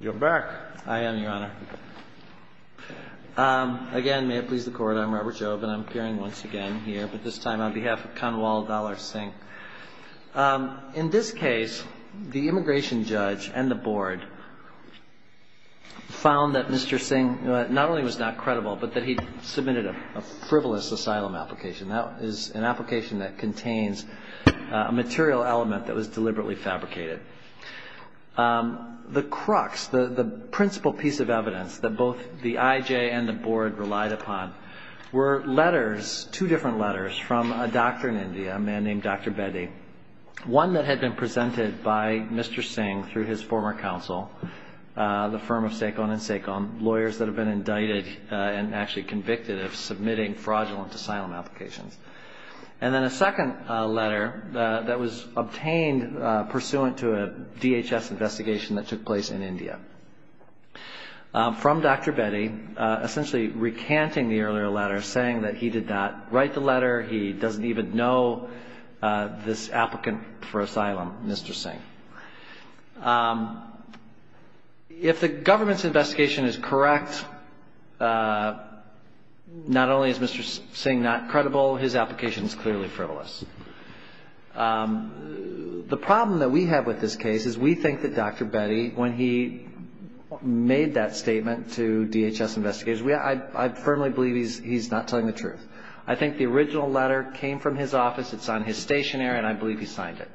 You're back. I am, Your Honor. Again, may it please the Court, I'm Robert Jobe, and I'm appearing once again here, but this time on behalf of Kanwal Dallar-Singh. In this case, the immigration judge and the board found that Mr. Singh not only was not credible, but that he'd submitted a frivolous asylum application. That is an application that contains a material element that was deliberately fabricated. The crux, the principal piece of evidence that both the IJ and the board relied upon were letters, two different letters, from a doctor in India, a man named Dr. Bedi. One that had been presented by Mr. Singh through his former counsel, the firm of Saikon and Saikon, lawyers that had been indicted and actually convicted of submitting fraudulent asylum applications. And then a second letter that was obtained pursuant to a DHS investigation that took place in India. From Dr. Bedi, essentially recanting the earlier letter, saying that he did not write the letter, he doesn't even know this applicant for asylum, Mr. Singh. If the government's investigation is correct, not only is Mr. Singh not credible, his application is clearly frivolous. The problem that we have with this case is we think that Dr. Bedi, when he made that statement to DHS investigators, I firmly believe he's not telling the truth. I think the original letter came from his office, it's on his stationery, and I believe he signed it.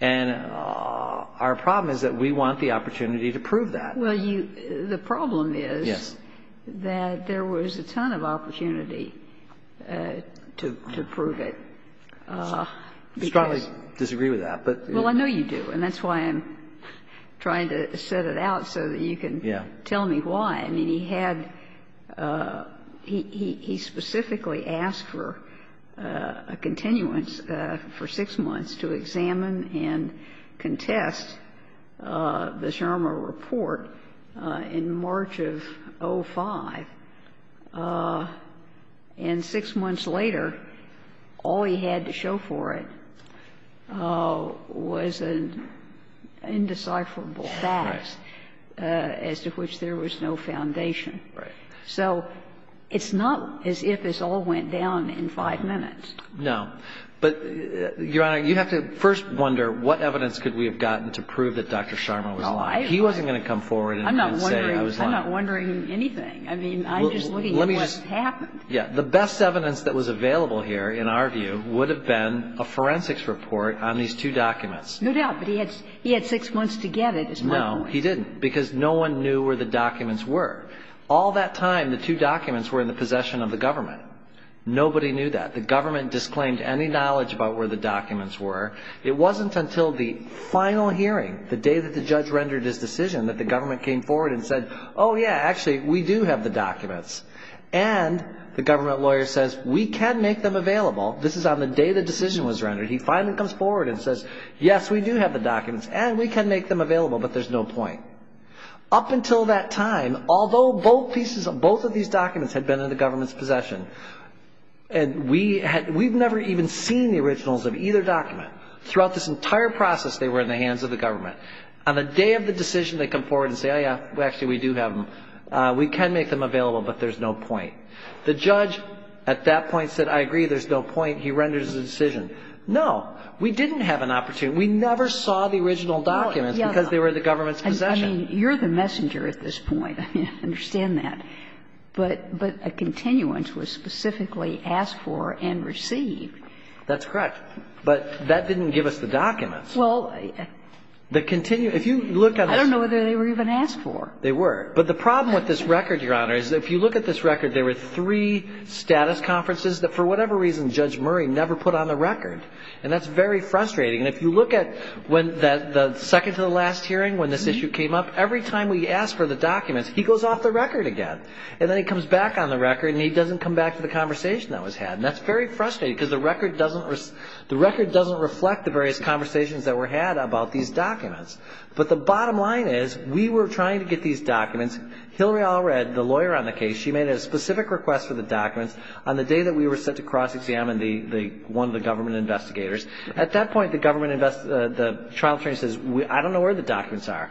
And our problem is that we want the opportunity to prove that. Well, you – the problem is that there was a ton of opportunity to prove it. I strongly disagree with that, but you know. Well, I know you do, and that's why I'm trying to set it out so that you can tell me why. I mean, he had – he specifically asked for a continuance for 6 months to examine and contest the Shermer report in March of 2005, and 6 months later, all he had to show for it was an indecipherable fact as to which there was no foundation. So it's not as if this all went down in 5 minutes. No. But, Your Honor, you have to first wonder what evidence could we have gotten to prove that Dr. Shermer was lying. He wasn't going to come forward and say I was lying. I'm not wondering anything. I mean, I'm just looking at what's happened. Yeah. The best evidence that was available here, in our view, would have been a forensics report on these two documents. No doubt, but he had 6 months to get it, is my point. No, he didn't, because no one knew where the documents were. All that time, the two documents were in the possession of the government. Nobody knew that. The government disclaimed any knowledge about where the documents were. It wasn't until the final hearing, the day that the judge rendered his decision, that the government came forward and said, oh, yeah, actually, we do have the documents. And the government lawyer says, we can make them available. This is on the day the decision was rendered. He finally comes forward and says, yes, we do have the documents, and we can make them available, but there's no point. Up until that time, although both of these documents had been in the government's possession, and we've never even seen the originals of either document. Throughout this entire process, they were in the hands of the government. On the day of the decision, they come forward and say, oh, yeah, actually, we do have them. We can make them available, but there's no point. The judge at that point said, I agree, there's no point. He renders his decision. No, we didn't have an opportunity. We never saw the original documents because they were in the government's possession. I mean, you're the messenger at this point. I understand that. But a continuance was specifically asked for and received. That's correct. But that didn't give us the documents. Well, I don't know whether they were even asked for. They were. But the problem with this record, Your Honor, is if you look at this record, there were three status conferences that, for whatever reason, Judge Murray never put on the record. And that's very frustrating. And if you look at when the second to the last hearing, when this issue came up, every time we asked for the documents, he goes off the record again. And then he comes back on the record, and he doesn't come back to the conversation that was had. And that's very frustrating because the record doesn't reflect the various conversations that were had about these documents. But the bottom line is we were trying to get these documents. Hillary Allred, the lawyer on the case, she made a specific request for the documents on the day that we were set to cross-examine one of the government investigators. At that point, the trial attorney says, I don't know where the documents are.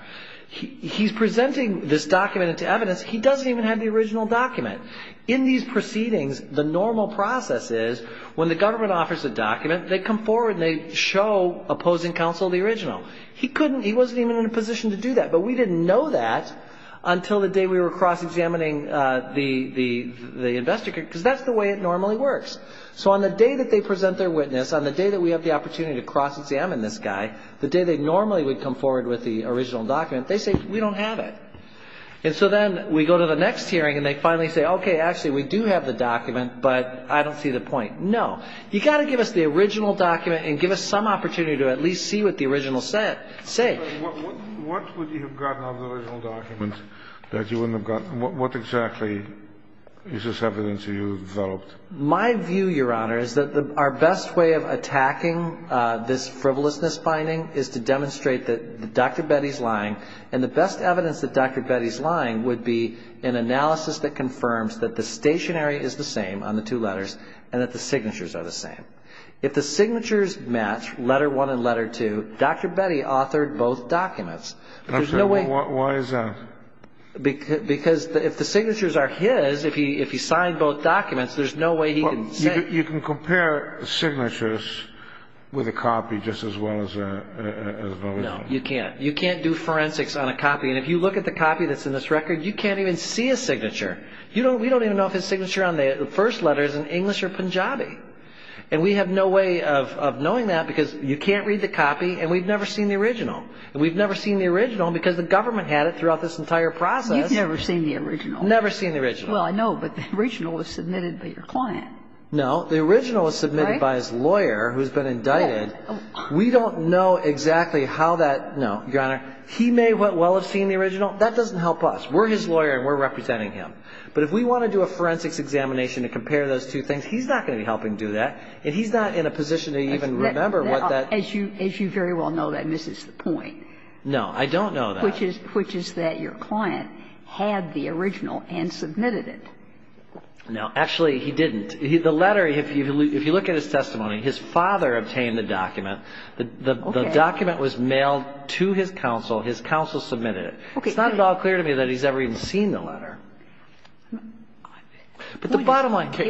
He's presenting this document to evidence. He doesn't even have the original document. In these proceedings, the normal process is when the government offers a document, they come forward and they show opposing counsel the original. He couldn't. He wasn't even in a position to do that. But we didn't know that until the day we were cross-examining the investigator because that's the way it normally works. So on the day that they present their witness, on the day that we have the opportunity to cross-examine this guy, the day they normally would come forward with the original document, they say, we don't have it. And so then we go to the next hearing and they finally say, okay, actually, we do have the document, but I don't see the point. No. You've got to give us the original document and give us some opportunity to at least see what the original said. What would you have gotten out of the original document that you wouldn't have gotten? What exactly is this evidence you developed? My view, Your Honor, is that our best way of attacking this frivolousness finding is to demonstrate that Dr. Betty's lying. And the best evidence that Dr. Betty's lying would be an analysis that confirms that the stationery is the same on the two letters and that the signatures are the same. If the signatures match, letter one and letter two, Dr. Betty authored both documents. Why is that? Because if the signatures are his, if he signed both documents, there's no way he can say. You can compare signatures with a copy just as well as an original. No, you can't. You can't do forensics on a copy. And if you look at the copy that's in this record, you can't even see a signature. We don't even know if his signature on the first letter is in English or Punjabi. And we have no way of knowing that because you can't read the copy and we've never seen the original. And we've never seen the original because the government had it throughout this entire process. You've never seen the original. Never seen the original. Well, I know, but the original was submitted by your client. No. The original was submitted by his lawyer who's been indicted. We don't know exactly how that no, Your Honor, he may well have seen the original. That doesn't help us. We're his lawyer and we're representing him. But if we want to do a forensics examination to compare those two things, he's not going to be helping do that and he's not in a position to even remember what that. As you very well know, that misses the point. No. I don't know that. Which is that your client had the original and submitted it. No. Actually, he didn't. The letter, if you look at his testimony, his father obtained the document. The document was mailed to his counsel. His counsel submitted it. It's not at all clear to me that he's ever even seen the letter. But the bottom line. Carry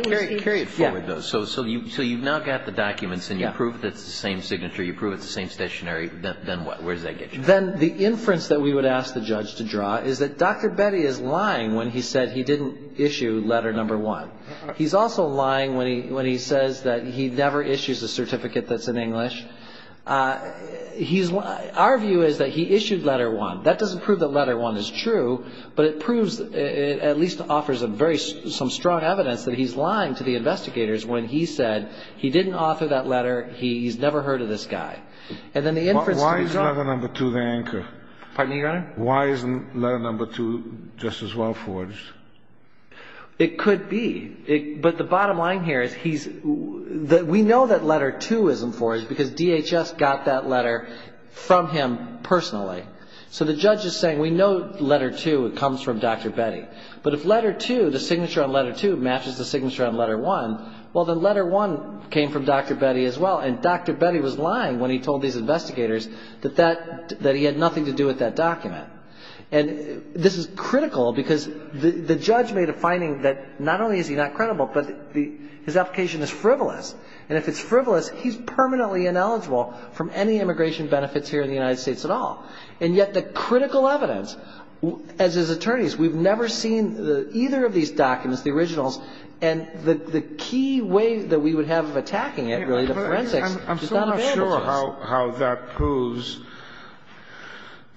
it forward, though. So you've now got the documents and you prove it's the same signature, you prove it's the same stationery. Then what? Where does that get you? Then the inference that we would ask the judge to draw is that Dr. Betty is lying when he said he didn't issue letter number one. He's also lying when he says that he never issues a certificate that's in English. He's lying. Our view is that he issued letter one. That doesn't prove that letter one is true, but it proves, at least offers some strong evidence that he's lying to the investigators when he said he didn't offer that letter, he's never heard of this guy. Why is letter number two the anchor? Pardon me, Your Honor? Why isn't letter number two just as well forged? It could be. But the bottom line here is we know that letter two isn't forged because DHS got that letter from him personally. So the judge is saying we know letter two comes from Dr. Betty. But if letter two, the signature on letter two matches the signature on letter one, well, then letter one came from Dr. Betty as well. And Dr. Betty was lying when he told these investigators that he had nothing to do with that document. And this is critical because the judge made a finding that not only is he not credible, but his application is frivolous. And if it's frivolous, he's permanently ineligible from any immigration benefits here in the United States at all. And yet the critical evidence, as his attorneys, we've never seen either of these documents, the originals. And the key way that we would have of attacking it, really, the forensics, is not advantages. I'm still not sure how that proves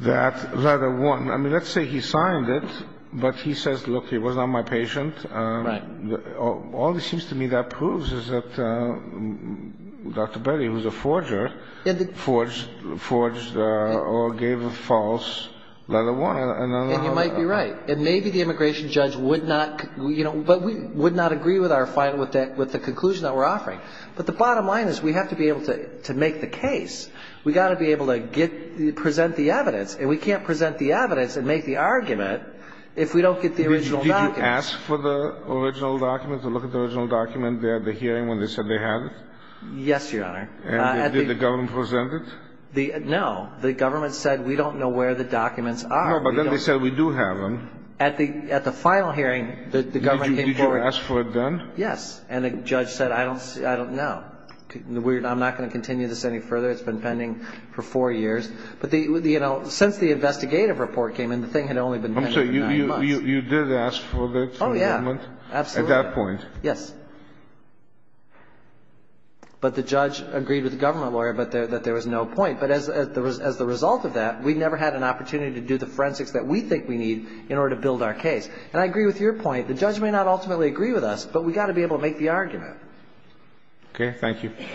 that letter one. I mean, let's say he signed it, but he says, look, he was not my patient. Right. All it seems to me that proves is that Dr. Betty, who's a forger, forged or gave a false letter one. And you might be right. And maybe the immigration judge would not, you know, but we would not agree with our finding, with the conclusion that we're offering. But the bottom line is we have to be able to make the case. We've got to be able to present the evidence. And we can't present the evidence and make the argument if we don't get the original documents. Did you ask for the original document, to look at the original document at the hearing when they said they had it? Yes, Your Honor. And did the government present it? No. The government said, we don't know where the documents are. No, but then they said, we do have them. At the final hearing, the government came forward. Did you ask for it then? Yes. And the judge said, I don't know. I'm not going to continue this any further. It's been pending for four years. But, you know, since the investigative report came in, the thing had only been pending for nine months. So you did ask for the document? Oh, yeah. Absolutely. At that point? Yes. But the judge agreed with the government lawyer that there was no point. But as the result of that, we never had an opportunity to do the forensics that we think we need in order to build our case. And I agree with your point. The judge may not ultimately agree with us, but we've got to be able to make the argument. Okay. Thank you. Thank you.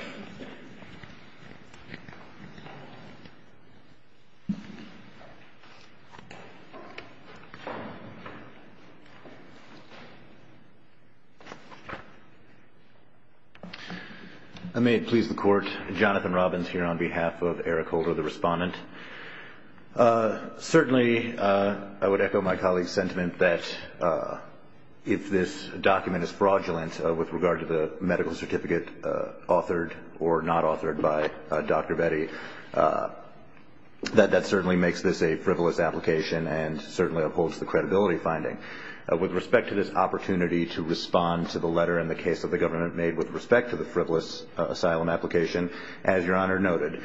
I may please the Court. Jonathan Robbins here on behalf of Eric Holder, the respondent. Certainly, I would echo my colleague's sentiment that if this document is fraudulent with regard to the medical certificate authored or not authored by Dr. Betty, that that certainly makes this a frivolous application and certainly upholds the credibility finding. With respect to this opportunity to respond to the letter and the case that the government made with respect to the frivolous asylum application, as Your Honor noted,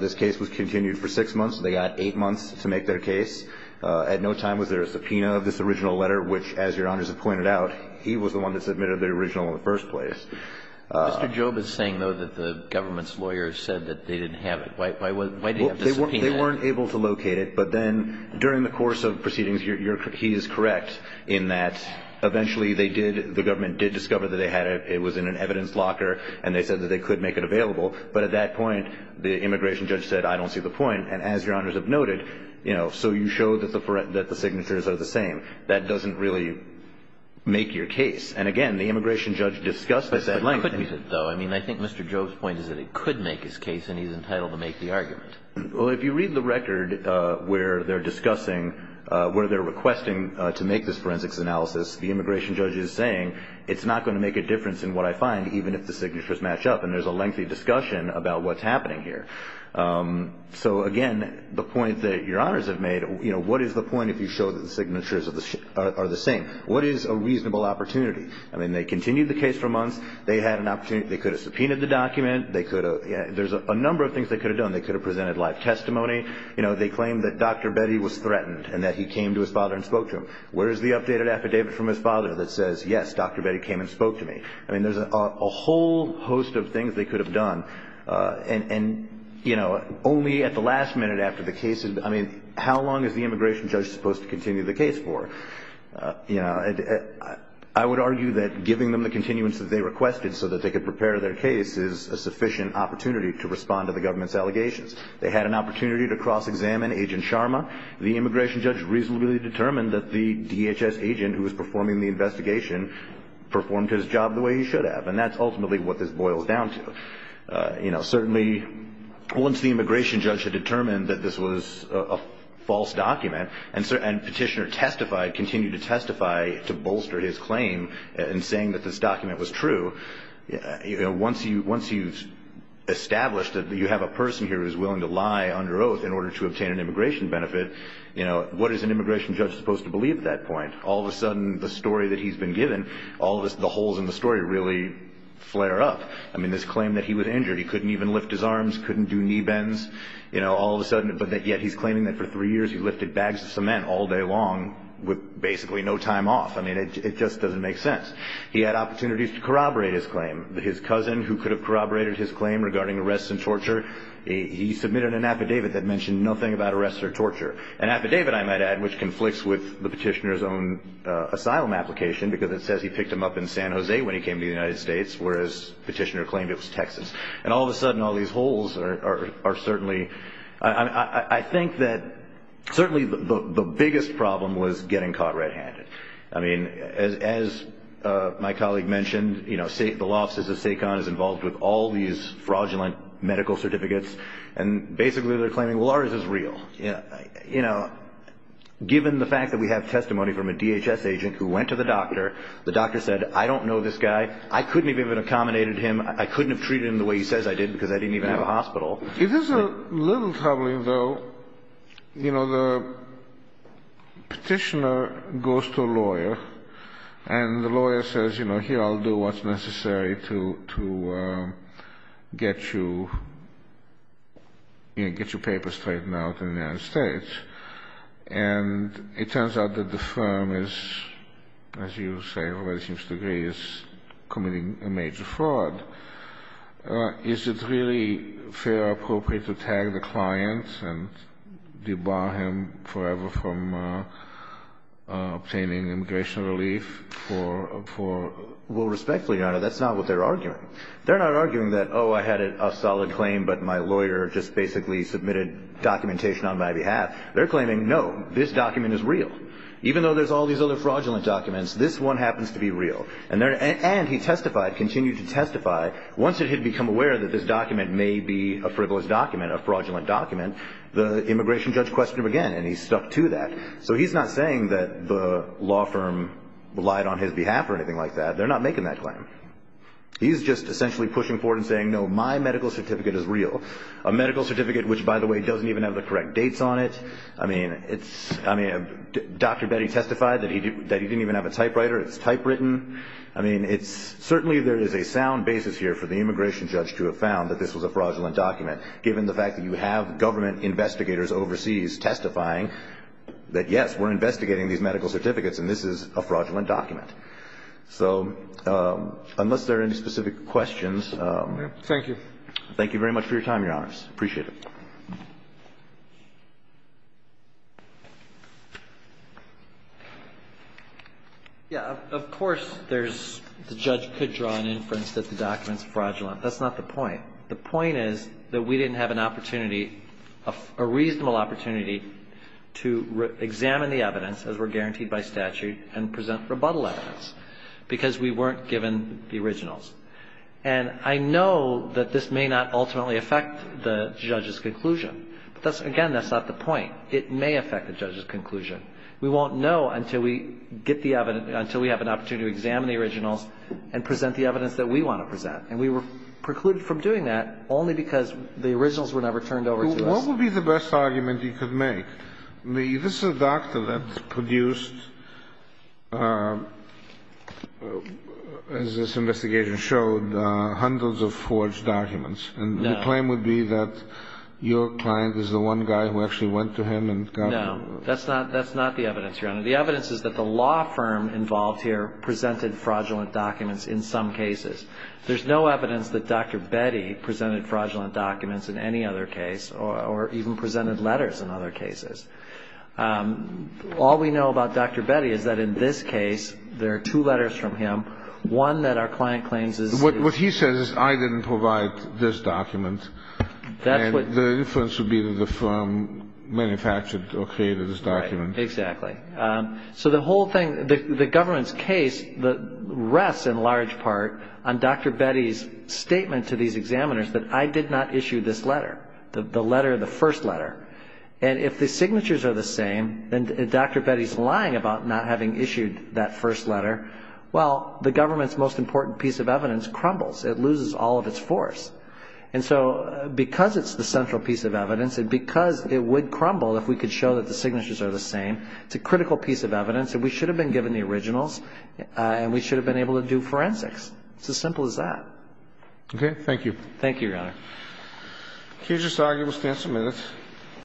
this case was continued for six months. They got eight months to make their case. At no time was there a subpoena of this original letter, which, as Your Honors have pointed out, he was the one that submitted the original in the first place. Mr. Jobe is saying, though, that the government's lawyer said that they didn't have it. Why did he have the subpoena? They weren't able to locate it. But then during the course of proceedings, he is correct in that eventually they did, the government did discover that they had it. It was in an evidence locker, and they said that they could make it available. But at that point, the immigration judge said, I don't see the point. And as Your Honors have noted, you know, so you show that the signatures are the same. That doesn't really make your case. And, again, the immigration judge discussed this at length. I couldn't use it, though. I mean, I think Mr. Jobe's point is that it could make his case, and he's entitled to make the argument. Well, if you read the record where they're discussing, where they're requesting to make this forensics analysis, the immigration judge is saying it's not going to make a difference in what I find, even if the signatures match up. And there's a lengthy discussion about what's happening here. So, again, the point that Your Honors have made, you know, what is the point if you show that the signatures are the same? What is a reasonable opportunity? I mean, they continued the case for months. They had an opportunity. They could have subpoenaed the document. There's a number of things they could have done. They could have presented live testimony. You know, they claimed that Dr. Betty was threatened and that he came to his father and spoke to him. Where is the updated affidavit from his father that says, yes, Dr. Betty came and spoke to me? I mean, there's a whole host of things they could have done. And, you know, only at the last minute after the case, I mean, how long is the immigration judge supposed to continue the case for? You know, I would argue that giving them the continuance that they requested so that they could prepare their case is a sufficient opportunity to respond to the government's allegations. They had an opportunity to cross-examine Agent Sharma. The immigration judge reasonably determined that the DHS agent who was performing the investigation performed his job the way he should have, and that's ultimately what this boils down to. You know, certainly once the immigration judge had determined that this was a false document and Petitioner testified, continued to testify to bolster his claim in saying that this document was true, once you've established that you have a person here who's willing to lie under oath in order to obtain an immigration benefit, you know, what is an immigration judge supposed to believe at that point? All of a sudden, the story that he's been given, all of the holes in the story really flare up. I mean, this claim that he was injured, he couldn't even lift his arms, couldn't do knee bends, you know, all of a sudden, but yet he's claiming that for three years he lifted bags of cement all day long with basically no time off. I mean, it just doesn't make sense. He had opportunities to corroborate his claim. His cousin, who could have corroborated his claim regarding arrests and torture, he submitted an affidavit that mentioned nothing about arrests or torture, an affidavit, I might add, which conflicts with the Petitioner's own asylum application because it says he picked him up in San Jose when he came to the United States, whereas Petitioner claimed it was Texas. And all of a sudden, all these holes are certainly, I think that certainly the biggest problem was getting caught red-handed. I mean, as my colleague mentioned, you know, the law offices of SACON is involved with all these fraudulent medical certificates and basically they're claiming, well, ours is real. You know, given the fact that we have testimony from a DHS agent who went to the doctor, the doctor said, I don't know this guy, I couldn't have even accommodated him, I couldn't have treated him the way he says I did because I didn't even have a hospital. It is a little troubling, though. You know, the Petitioner goes to a lawyer and the lawyer says, you know, here I'll do what's necessary to get you, you know, get your papers straightened out in the United States. And it turns out that the firm is, as you say, already seems to agree is committing a major fraud. Is it really fair or appropriate to tag the client and debar him forever from obtaining immigration relief for? Well, respectfully, Your Honor, that's not what they're arguing. They're not arguing that, oh, I had a solid claim but my lawyer just basically submitted documentation on my behalf. They're claiming, no, this document is real. Even though there's all these other fraudulent documents, this one happens to be real. And he testified, continued to testify, once he had become aware that this document may be a frivolous document, a fraudulent document, the immigration judge questioned him again and he stuck to that. So he's not saying that the law firm lied on his behalf or anything like that. They're not making that claim. He's just essentially pushing forward and saying, no, my medical certificate is real. A medical certificate which, by the way, doesn't even have the correct dates on it. I mean, Dr. Betty testified that he didn't even have a typewriter. It's typewritten. I mean, certainly there is a sound basis here for the immigration judge to have found that this was a fraudulent document, given the fact that you have government investigators overseas testifying that, yes, we're investigating these medical certificates and this is a fraudulent document. So unless there are any specific questions. Thank you. Thank you very much for your time, Your Honors. Appreciate it. Yeah, of course there's the judge could draw an inference that the document is fraudulent. That's not the point. The point is that we didn't have an opportunity, a reasonable opportunity to examine the evidence, as we're guaranteed by statute, and present rebuttal evidence because we weren't given the originals. And I know that this may not ultimately affect the judge's conclusion. But that's, again, that's not the point. It may affect the judge's conclusion. We won't know until we get the evidence, until we have an opportunity to examine the originals and present the evidence that we want to present. And we were precluded from doing that only because the originals were never turned over to us. What would be the best argument you could make? This is a doctor that produced, as this investigation showed, hundreds of forged documents. And the claim would be that your client is the one guy who actually went to him and got them. No, that's not the evidence, Your Honor. The evidence is that the law firm involved here presented fraudulent documents in some cases. There's no evidence that Dr. Betty presented fraudulent documents in any other case or even presented letters in other cases. All we know about Dr. Betty is that in this case there are two letters from him, one that our client claims is his. What he says is, I didn't provide this document. And the inference would be that the firm manufactured or created this document. Right, exactly. So the whole thing, the government's case rests in large part on Dr. Betty's statement to these examiners that I did not issue this letter, the letter, the first letter. And if the signatures are the same, then Dr. Betty's lying about not having issued that first letter. Well, the government's most important piece of evidence crumbles. It loses all of its force. And so because it's the central piece of evidence and because it would crumble if we could show that the signatures are the same, it's a critical piece of evidence and we should have been given the originals and we should have been able to do forensics. It's as simple as that. Okay. Thank you. Thank you, Your Honor. Accusers' argument will stand some minutes.